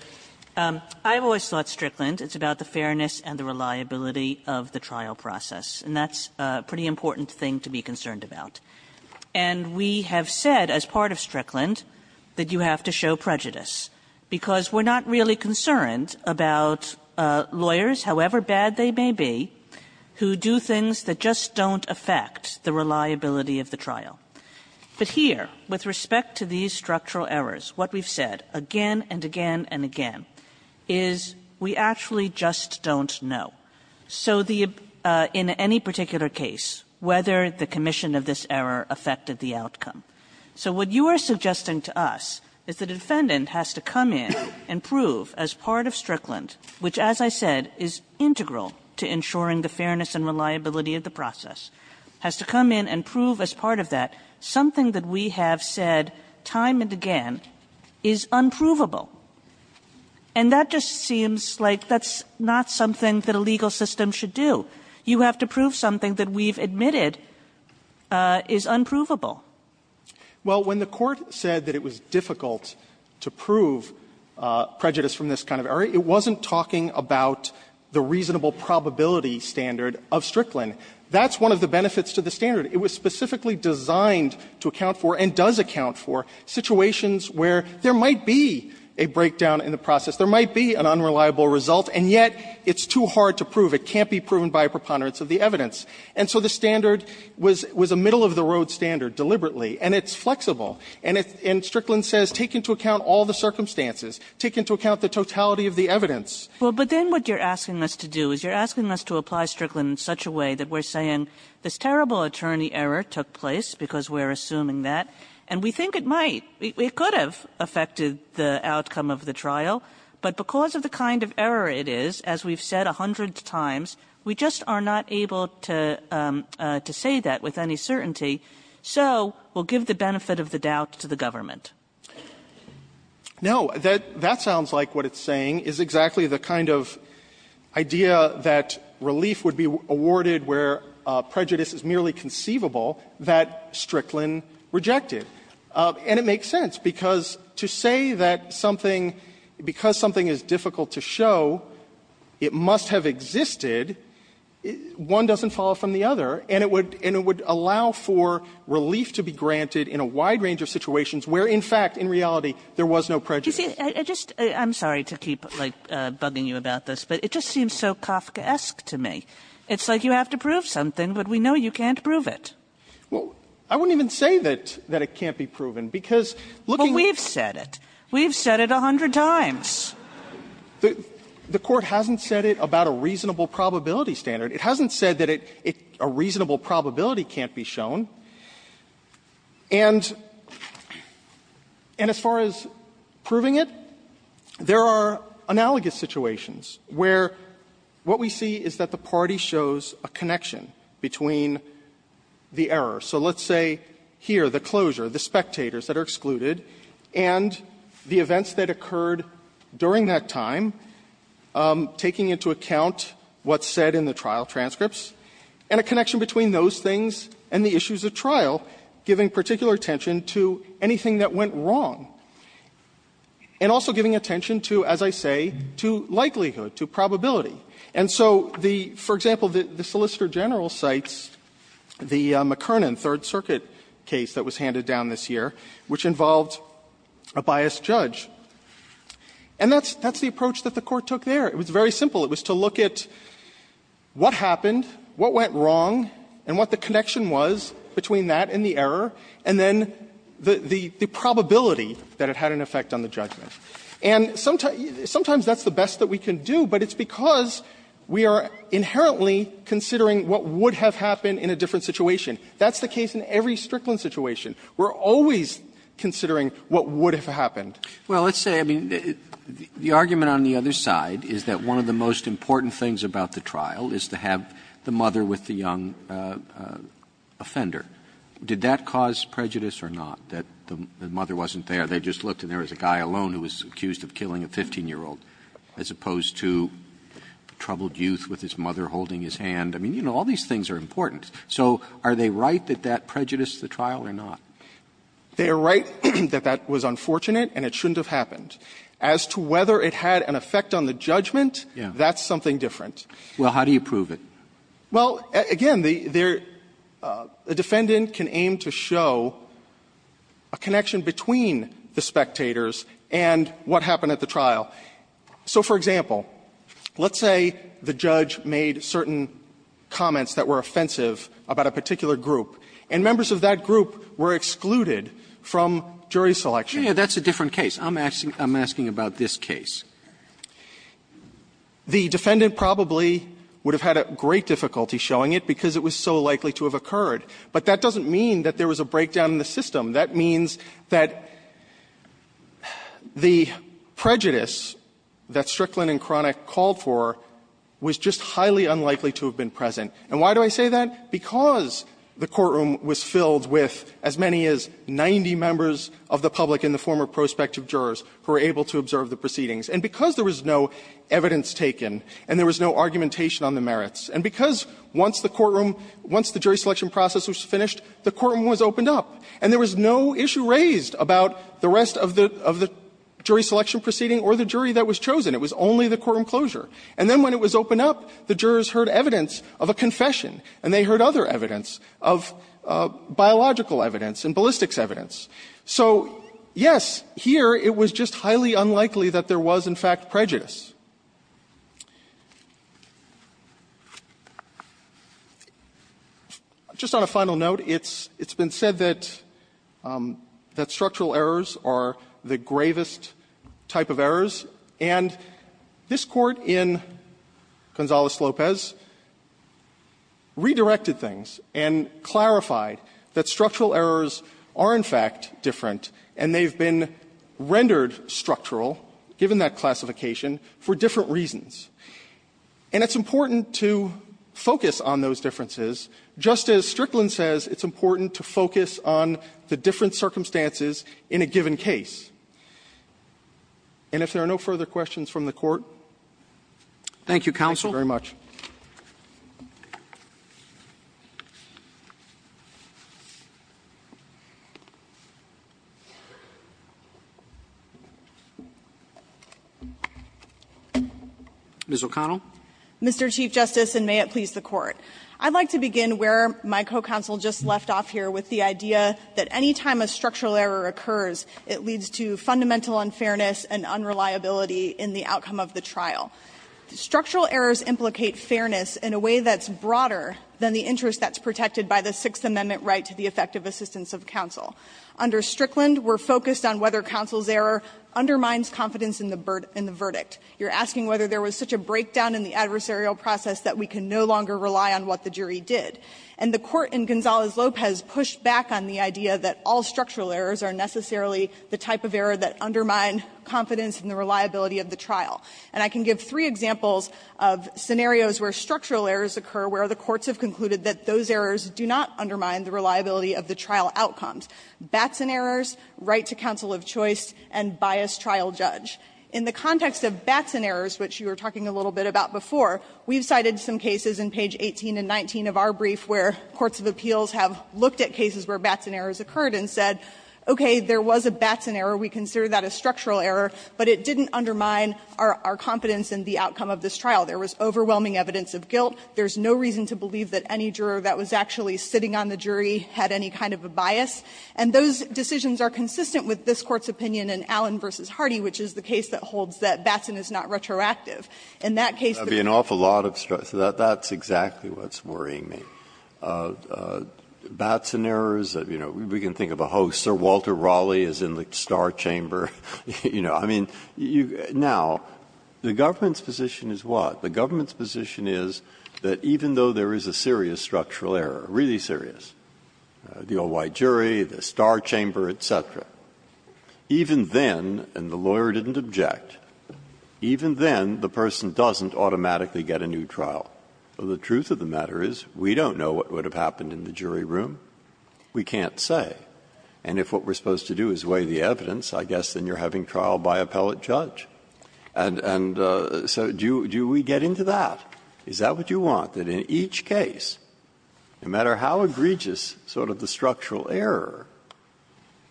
I've always thought Strickland it's about the fairness and the reliability of the trial process, and that's a pretty important thing to be concerned about. And we have said as part of Strickland that you have to show prejudice, because we're not really concerned about lawyers, however bad they may be, who do things that just don't affect the reliability of the trial. But here, with respect to these structural errors, what we've said again and again and again is we actually just don't know. So the – in any particular case, whether the commission of this error affected the outcome. So what you are suggesting to us is the defendant has to come in and prove as part of Strickland, which as I said is integral to ensuring the fairness and reliability of the process, has to come in and prove as part of that something that we have said time and again is unprovable. And that just seems like that's not something that a legal system should do. You have to prove something that we've admitted is unprovable. Fisherman, Well, when the Court said that it was difficult to prove prejudice from this kind of error, it wasn't talking about the reasonable probability standard of Strickland. That's one of the benefits to the standard. It was specifically designed to account for, and does account for, situations where there might be a breakdown in the process. There might be an unreliable result, and yet it's too hard to prove. It can't be proven by a preponderance of the evidence. And so the standard was a middle-of-the-road standard deliberately, and it's flexible. And it's – and Strickland says take into account all the circumstances. Take into account the totality of the evidence. Well, but then what you're asking us to do is you're asking us to apply Strickland in such a way that we're saying this terrible attorney error took place because we're assuming that, and we think it might. It could have affected the outcome of the trial, but because of the kind of error it is, as we've said a hundred times, we just are not able to say that with any certainty. So we'll give the benefit of the doubt to the government. No. That sounds like what it's saying is exactly the kind of idea that relief would be awarded where prejudice is merely conceivable that Strickland rejected. And it makes sense, because to say that something – because something is difficult to show, it must have existed, one doesn't fall from the other, and it would – and it would allow for relief to be granted in a wide range of situations where, in fact, in reality, there was no prejudice. I'm sorry to keep, like, bugging you about this, but it just seems so Kafkaesque to me. It's like you have to prove something, but we know you can't prove it. Well, I wouldn't even say that it can't be proven, because looking at the – But we've said it. We've said it a hundred times. The Court hasn't said it about a reasonable probability standard. It hasn't said that it – a reasonable probability can't be shown. And as far as proving it, there are analogous situations where what we see is that the party shows a connection between the error. So let's say here, the closure, the spectators that are excluded, and the events that occurred during that time, taking into account what's said in the trial transcripts, and a connection between those things and the issues at trial, giving particular attention to anything that went wrong, and also giving attention to, as I say, to likelihood, to probability. And so the – for example, the Solicitor General cites the McKernan Third Circuit case that was handed down this year, which involved a biased judge. And that's the approach that the Court took there. It was very simple. It was to look at what happened, what went wrong, and what the connection was between that and the error, and then the probability that it had an effect on the judgment. And sometimes that's the best that we can do, but it's because we are inherently considering what would have happened in a different situation. That's the case in every Strickland situation. We're always considering what would have happened. Roberts. Well, let's say, I mean, the argument on the other side is that one of the most important things about the trial is to have the mother with the young offender. Did that cause prejudice or not, that the mother wasn't there? They just looked and there was a guy alone who was accused of killing a 15-year-old, as opposed to troubled youth with his mother holding his hand. I mean, you know, all these things are important. So are they right that that prejudiced the trial or not? They are right that that was unfortunate and it shouldn't have happened. As to whether it had an effect on the judgment, that's something different. Well, how do you prove it? Well, again, the defendant can aim to show a connection between the spectators and what happened at the trial. So, for example, let's say the judge made certain comments that were offensive about a particular group, and members of that group were excluded from jury selection. Yeah, that's a different case. I'm asking about this case. The defendant probably would have had a great difficulty showing it because it was so likely to have occurred. But that doesn't mean that there was a breakdown in the system. That means that the prejudice that Strickland and Cronick called for was just highly unlikely to have been present. And why do I say that? Because the courtroom was filled with as many as 90 members of the public and the And because there was no evidence taken and there was no argumentation on the merits. And because once the courtroom, once the jury selection process was finished, the courtroom was opened up. And there was no issue raised about the rest of the jury selection proceeding or the jury that was chosen. It was only the courtroom closure. And then when it was opened up, the jurors heard evidence of a confession. And they heard other evidence of biological evidence and ballistics evidence. So, yes, here it was just highly unlikely that there was, in fact, prejudice. Just on a final note, it's been said that structural errors are the gravest type of errors, and this Court in Gonzales-Lopez redirected things and clarified that And they've been rendered structural, given that classification, for different reasons. And it's important to focus on those differences, just as Strickland says it's important to focus on the different circumstances in a given case. And if there are no further questions from the Court, thank you very much. Ms. O'Connell. Mr. Chief Justice, and may it please the Court. I'd like to begin where my co-counsel just left off here with the idea that any time a structural error occurs, it leads to fundamental unfairness and unreliability in the outcome of the trial. Structural errors implicate fairness in a way that's broader than the interest that's protected by the Sixth Amendment right to the effective assistance of counsel. Under Strickland, we're focused on whether counsel's error undermines confidence in the verdict. You're asking whether there was such a breakdown in the adversarial process that we can no longer rely on what the jury did. And the Court in Gonzales-Lopez pushed back on the idea that all structural errors are necessarily the type of error that undermine confidence in the reliability of the trial. And I can give three examples of scenarios where structural errors occur where the courts have concluded that those errors do not undermine the reliability of the trial outcomes. Batson errors, right to counsel of choice, and biased trial judge. In the context of Batson errors, which you were talking a little bit about before, we've cited some cases in page 18 and 19 of our brief where courts of appeals have looked at cases where Batson errors occurred and said, okay, there was a Batson error. We consider that a structural error. But it didn't undermine our confidence in the outcome of this trial. There was overwhelming evidence of guilt. There's no reason to believe that any juror that was actually sitting on the jury had any kind of a bias. And those decisions are consistent with this Court's opinion in Allen v. Hardy, which is the case that holds that Batson is not retroactive. In that case, the case that holds that Batson is not retroactive. Breyer, that's exactly what's worrying me. Batson errors, you know, we can think of a host. Sir Walter Raleigh is in the star chamber. You know, I mean, now, the government's position is what? The government's position is that even though there is a serious structural error, really serious, the old white jury, the star chamber, et cetera, even then the lawyer didn't object, even then the person doesn't automatically get a new trial. The truth of the matter is we don't know what would have happened in the jury room. We can't say. And if what we're supposed to do is weigh the evidence, I guess the jury would have said you're having trial by appellate judge. And so do we get into that? Is that what you want, that in each case, no matter how egregious sort of the structural error,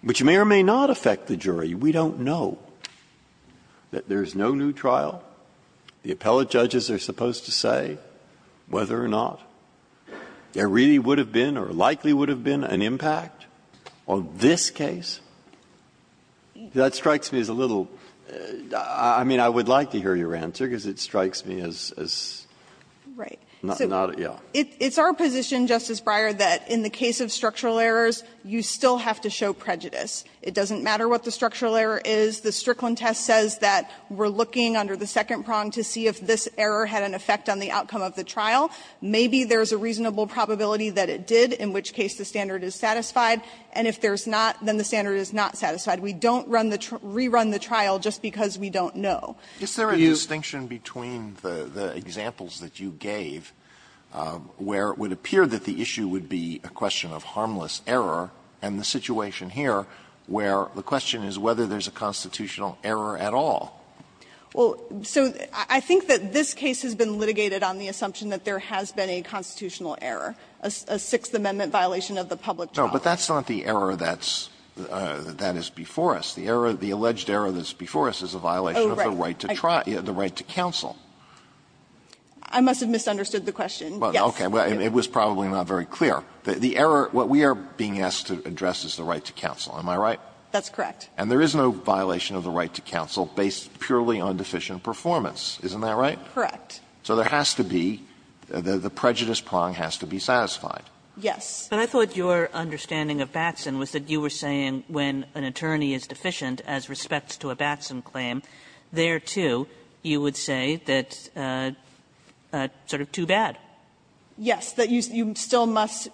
which may or may not affect the jury, we don't know, that there is no new trial? The appellate judges are supposed to say whether or not there really would have been or likely would have been an impact on this case? That strikes me as a little ‑‑ I mean, I would like to hear your answer, because it strikes me as not ‑‑ yeah. O'Connell. It's our position, Justice Breyer, that in the case of structural errors, you still have to show prejudice. It doesn't matter what the structural error is. The Strickland test says that we're looking under the second prong to see if this error had an effect on the outcome of the trial. Maybe there's a reasonable probability that it did, in which case the standard is satisfied. And if there's not, then the standard is not satisfied. We don't run the ‑‑ rerun the trial just because we don't know. Alito, do you‑‑ Alito Is there a distinction between the examples that you gave, where it would appear that the issue would be a question of harmless error, and the situation here, where the question is whether there's a constitutional error at all? O'Connell. Well, so I think that this case has been litigated on the assumption that there has been a constitutional error, a Sixth Amendment violation of the public trial. No, but that's not the error that's ‑‑ that is before us. The error ‑‑ the alleged error that's before us is a violation of the right to trial. The right to counsel. I must have misunderstood the question. Well, okay. It was probably not very clear. The error ‑‑ what we are being asked to address is the right to counsel. Am I right? That's correct. And there is no violation of the right to counsel based purely on deficient performance. Isn't that right? Correct. So there has to be ‑‑ the prejudice prong has to be satisfied. Yes. But I thought your understanding of Batson was that you were saying when an attorney is deficient as respects to a Batson claim, there, too, you would say that sort of too bad. Yes, that you still must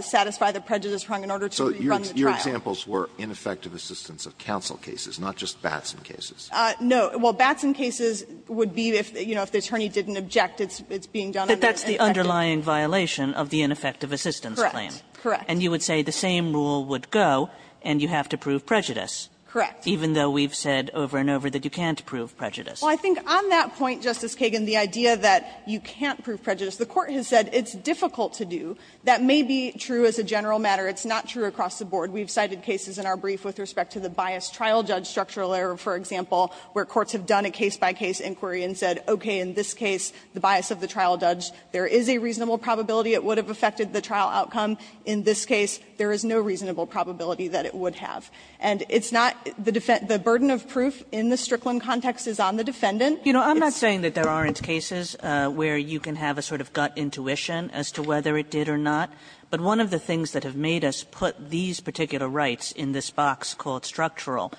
satisfy the prejudice prong in order to run the trial. So your examples were ineffective assistance of counsel cases, not just Batson cases. No. Well, Batson cases would be if, you know, if the attorney didn't object, it's being But that's the underlying violation of the ineffective assistance claim. Correct. Correct. And you would say the same rule would go, and you have to prove prejudice. Correct. Even though we've said over and over that you can't prove prejudice. Well, I think on that point, Justice Kagan, the idea that you can't prove prejudice, the Court has said it's difficult to do. That may be true as a general matter. It's not true across the board. We've cited cases in our brief with respect to the biased trial judge structural error, for example, where courts have done a case‑by‑case inquiry and said, okay, in this case, the bias of the trial judge, there is a reasonable probability it would have affected the trial outcome. In this case, there is no reasonable probability that it would have. And it's not the ‑‑ the burden of proof in the Strickland context is on the defendant. You know, I'm not saying that there aren't cases where you can have a sort of gut intuition as to whether it did or not, but one of the things that have made us put these particular rights in this box called structural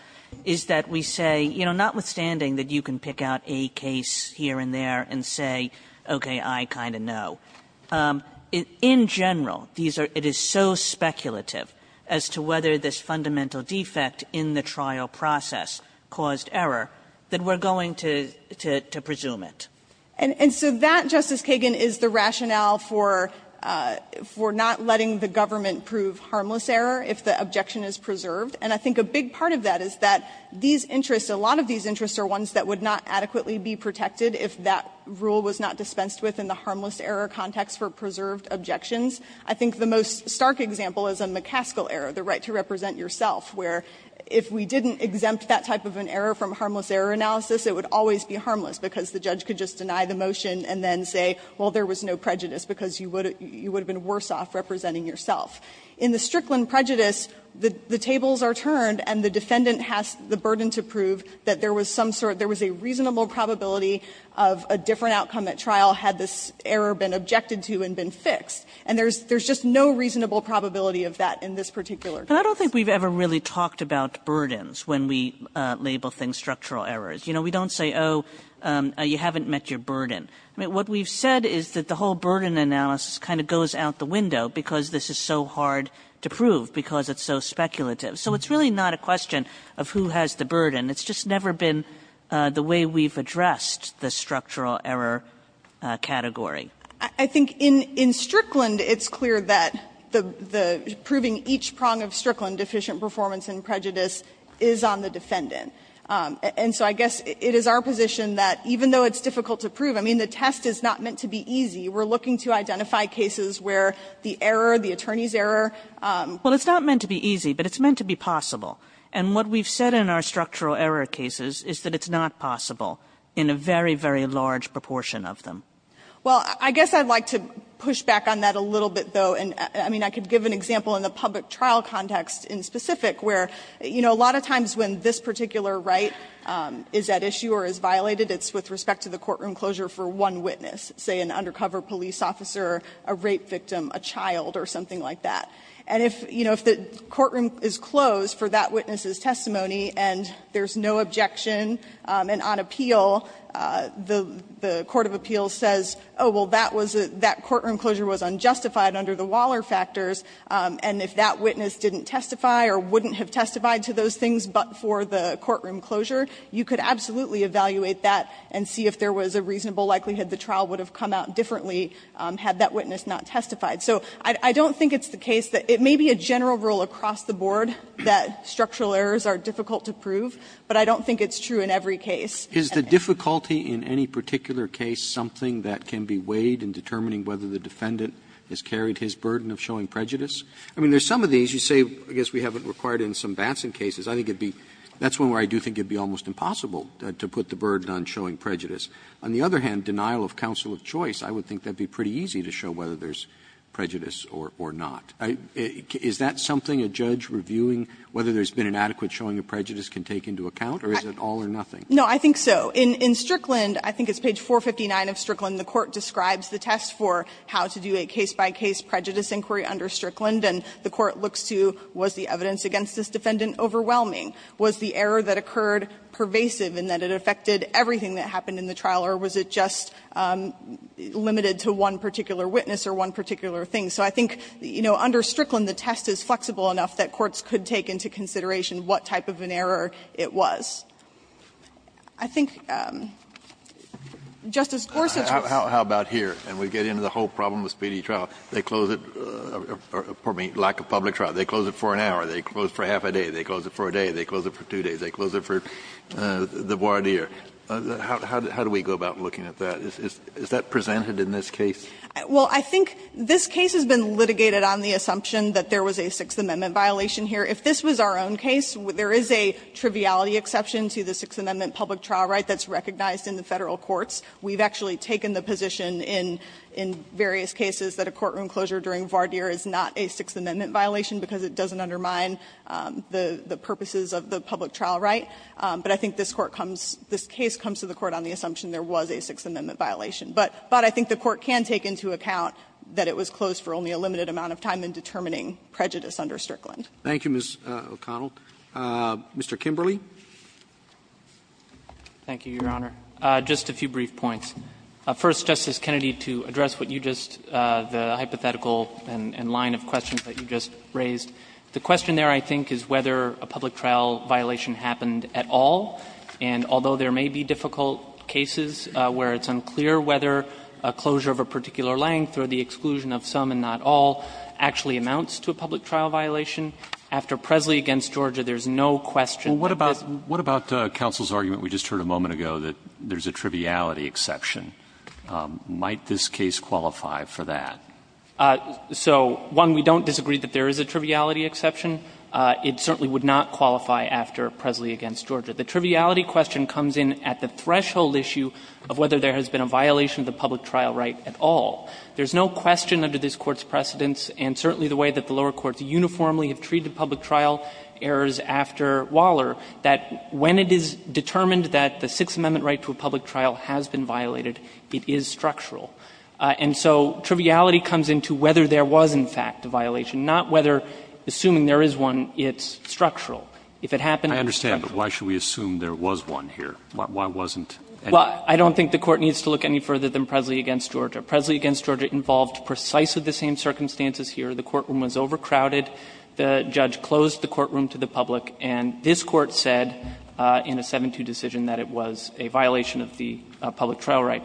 is that we say, you know, notwithstanding that you can pick out a case here and there and say, okay, I kind of know, in general, these are ‑‑ it is so speculative as to whether this fundamental defect in the trial process caused error that we're going to ‑‑ to presume it. And so that, Justice Kagan, is the rationale for not letting the government prove harmless error if the objection is preserved. And I think a big part of that is that these interests, a lot of these interests are ones that would not adequately be protected if that rule was not dispensed with in the harmless error context for preserved objections. I think the most stark example is a McCaskill error, the right to represent yourself, where if we didn't exempt that type of an error from harmless error analysis, it would always be harmless because the judge could just deny the motion and then say, well, there was no prejudice because you would have been worse off representing yourself. In the Strickland prejudice, the tables are turned and the defendant has the burden to prove that there was some sort of ‑‑ there was a reasonable probability of a different outcome at trial had this error been objected to and been fixed. And there's just no reasonable probability of that in this particular case. Kagan. Kagan. I don't think we've ever really talked about burdens when we label things structural errors. You know, we don't say, oh, you haven't met your burden. I mean, what we've said is that the whole burden analysis kind of goes out the window because this is so hard to prove because it's so speculative. So it's really not a question of who has the burden. It's just never been the way we've addressed the structural error category. I think in Strickland, it's clear that the proving each prong of Strickland, deficient performance and prejudice, is on the defendant. And so I guess it is our position that even though it's difficult to prove, I mean, the test is not meant to be easy. We're looking to identify cases where the error, the attorney's error. Well, it's not meant to be easy, but it's meant to be possible. And what we've said in our structural error cases is that it's not possible in a very, very large proportion of them. Well, I guess I'd like to push back on that a little bit, though. And I mean, I could give an example in the public trial context in specific where, you know, a lot of times when this particular right is at issue or is violated, it's with respect to the courtroom closure for one witness, say, an undercover police officer, a rape victim, a child, or something like that. And if, you know, if the courtroom is closed for that witness's testimony and there's no objection and on appeal, the court of appeals says, oh, well, that courtroom closure was unjustified under the Waller factors, and if that witness didn't testify or wouldn't have testified to those things but for the courtroom closure, you could absolutely evaluate that and see if there was a reasonable likelihood the trial would have come out differently had that witness not testified. So I don't think it's the case that it may be a general rule across the board that structural errors are difficult to prove, but I don't think it's true in every case. Roberts. Is the difficulty in any particular case something that can be weighed in determining whether the defendant has carried his burden of showing prejudice? I mean, there's some of these. You say, I guess we have it required in some Batson cases. I think it would be that's one where I do think it would be almost impossible to put the burden on showing prejudice. On the other hand, denial of counsel of choice, I would think that would be pretty easy to show whether there's prejudice or not. Is that something a judge reviewing whether there's been an adequate showing of prejudice can take into account, or is it all or nothing? No, I think so. In Strickland, I think it's page 459 of Strickland, the court describes the test for how to do a case-by-case prejudice inquiry under Strickland, and the court looks to was the evidence against this defendant overwhelming? Was the error that occurred pervasive in that it affected everything that happened in the trial, or was it just limited to one particular witness or one particular thing? So I think, you know, under Strickland, the test is flexible enough that courts could take into consideration what type of an error it was. I think Justice Gorsuch was going to say. Kennedy, how about here? And we get into the whole problem with speedy trial. They close it, pardon me, lack of public trial. They close it for an hour. They close it for half a day. They close it for two days. They close it for the voir dire. How do we go about looking at that? Is that presented in this case? Well, I think this case has been litigated on the assumption that there was a Sixth Amendment violation here. If this was our own case, there is a triviality exception to the Sixth Amendment public trial right that's recognized in the Federal courts. We've actually taken the position in various cases that a courtroom closure during voir dire is not a Sixth Amendment violation because it doesn't undermine the purposes of the public trial right. But I think this Court comes to the Court on the assumption there was a Sixth Amendment violation. But I think the Court can take into account that it was closed for only a limited amount of time in determining prejudice under Strickland. Roberts. Thank you, Ms. O'Connell. Mr. Kimberley. Thank you, Your Honor. Just a few brief points. First, Justice Kennedy, to address what you just, the hypothetical and line of questions that you just raised, the question there, I think, is whether a public trial violation happened at all. And although there may be difficult cases where it's unclear whether a closure of a particular length or the exclusion of some and not all actually amounts to a public trial violation, after Presley v. Georgia, there's no question that this is a public trial violation. Well, what about counsel's argument we just heard a moment ago that there's a triviality exception? Might this case qualify for that? So, one, we don't disagree that there is a triviality exception. It certainly would not qualify after Presley v. Georgia. The triviality question comes in at the threshold issue of whether there has been a violation of the public trial right at all. There's no question under this Court's precedents, and certainly the way that the lower courts uniformly have treated public trial errors after Waller, that when it is determined that the Sixth Amendment right to a public trial has been violated, it is structural. And so triviality comes into whether there was, in fact, a violation, not whether, assuming there is one, it's structural. If it happened, it's structural. I understand, but why should we assume there was one here? Why wasn't any? Well, I don't think the Court needs to look any further than Presley v. Georgia. Presley v. Georgia involved precisely the same circumstances here. The courtroom was overcrowded. The judge closed the courtroom to the public, and this Court said in a 7-2 decision that it was a violation of the public trial right.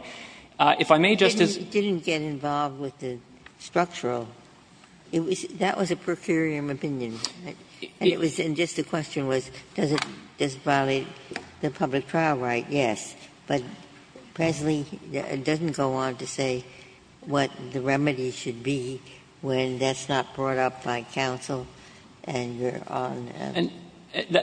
If I may, Justice Sotomayor. It didn't get involved with the structural. That was a per curiam opinion, and it was just a question was, does it violate the public trial right? Yes. But Presley doesn't go on to say what the remedy should be when that's not brought up by counsel, and you're on a verdict.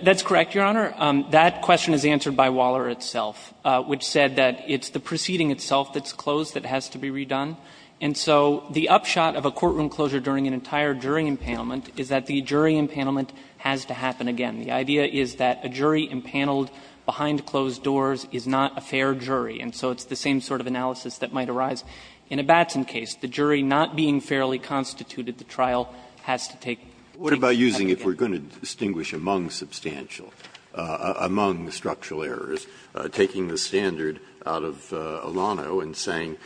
That's correct, Your Honor. That question is answered by Waller itself, which said that it's the proceeding itself that's closed that has to be redone, and so the upshot of a courtroom closure during an entire jury impanelment is that the jury impanelment has to happen again. The idea is that a jury impaneled behind closed doors is not a fair jury, and so it's the same sort of analysis that might arise in a Batson case. The jury not being fairly constituted, the trial has to take place again. Breyer, if we're going to distinguish among substantial, among the structural errors, taking the standard out of Olano and saying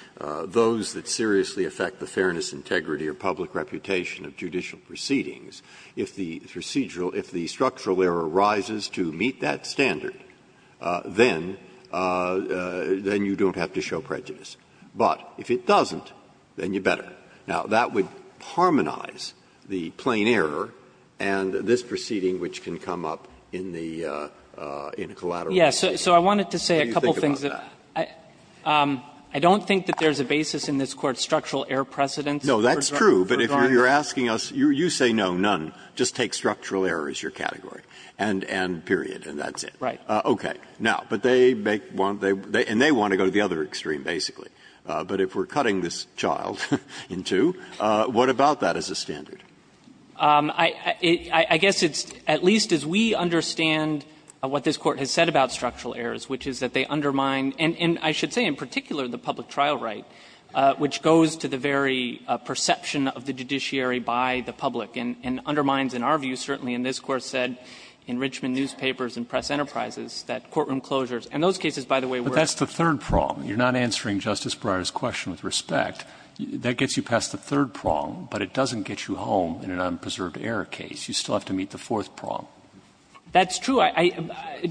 those that seriously affect the fairness, integrity, or public reputation of judicial proceedings, if the procedural – if the structural error rises to meet that standard, then you don't have to show prejudice. But if it doesn't, then you better. Now, that would harmonize the plain error and this proceeding which can come up in the – in a collateral proceeding. Do you think about that? I don't think that there's a basis in this Court's structural error precedence Breyer, but if you're asking us, you say no, none, just take structural error as your category, and period, and that's it. Right. Okay. Now, but they make one – and they want to go to the other extreme, basically. But if we're cutting this child in two, what about that as a standard? I guess it's at least as we understand what this Court has said about structural errors, which is that they undermine – and I should say in particular the public trial right, which goes to the very perception of the judiciary by the public and undermines, in our view, certainly in this Court said in Richmond Newspapers and Press Enterprises, that courtroom closures – and those cases, by the way, were – But that's the third prong. You're not answering Justice Breyer's question with respect. That gets you past the third prong, but it doesn't get you home in an unpreserved error case. You still have to meet the fourth prong. That's true. I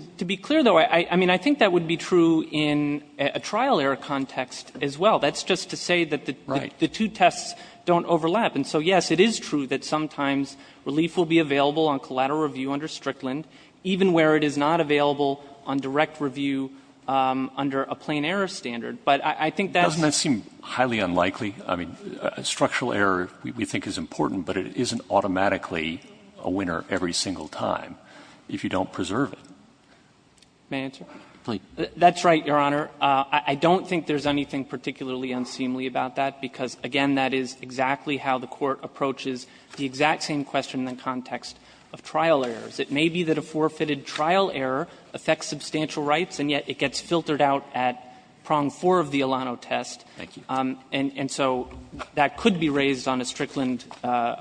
– to be clear, though, I mean, I think that would be true in a trial error context as well. That's just to say that the two tests don't overlap. And so, yes, it is true that sometimes relief will be available on collateral review under Strickland, even where it is not available on direct review under a plain error standard. But I think that's – Doesn't that seem highly unlikely? I mean, structural error we think is important, but it isn't automatically a winner every single time if you don't preserve it. May I answer? Please. That's right, Your Honor. I don't think there's anything particularly unseemly about that, because, again, that is exactly how the Court approaches the exact same question in the context of trial errors. It may be that a forfeited trial error affects substantial rights, and yet it gets filtered out at prong 4 of the Alano test. Thank you. And so that could be raised on a Strickland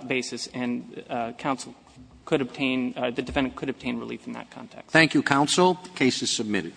basis, and counsel could obtain – the defendant could obtain relief in that context. Thank you, counsel. The case is submitted.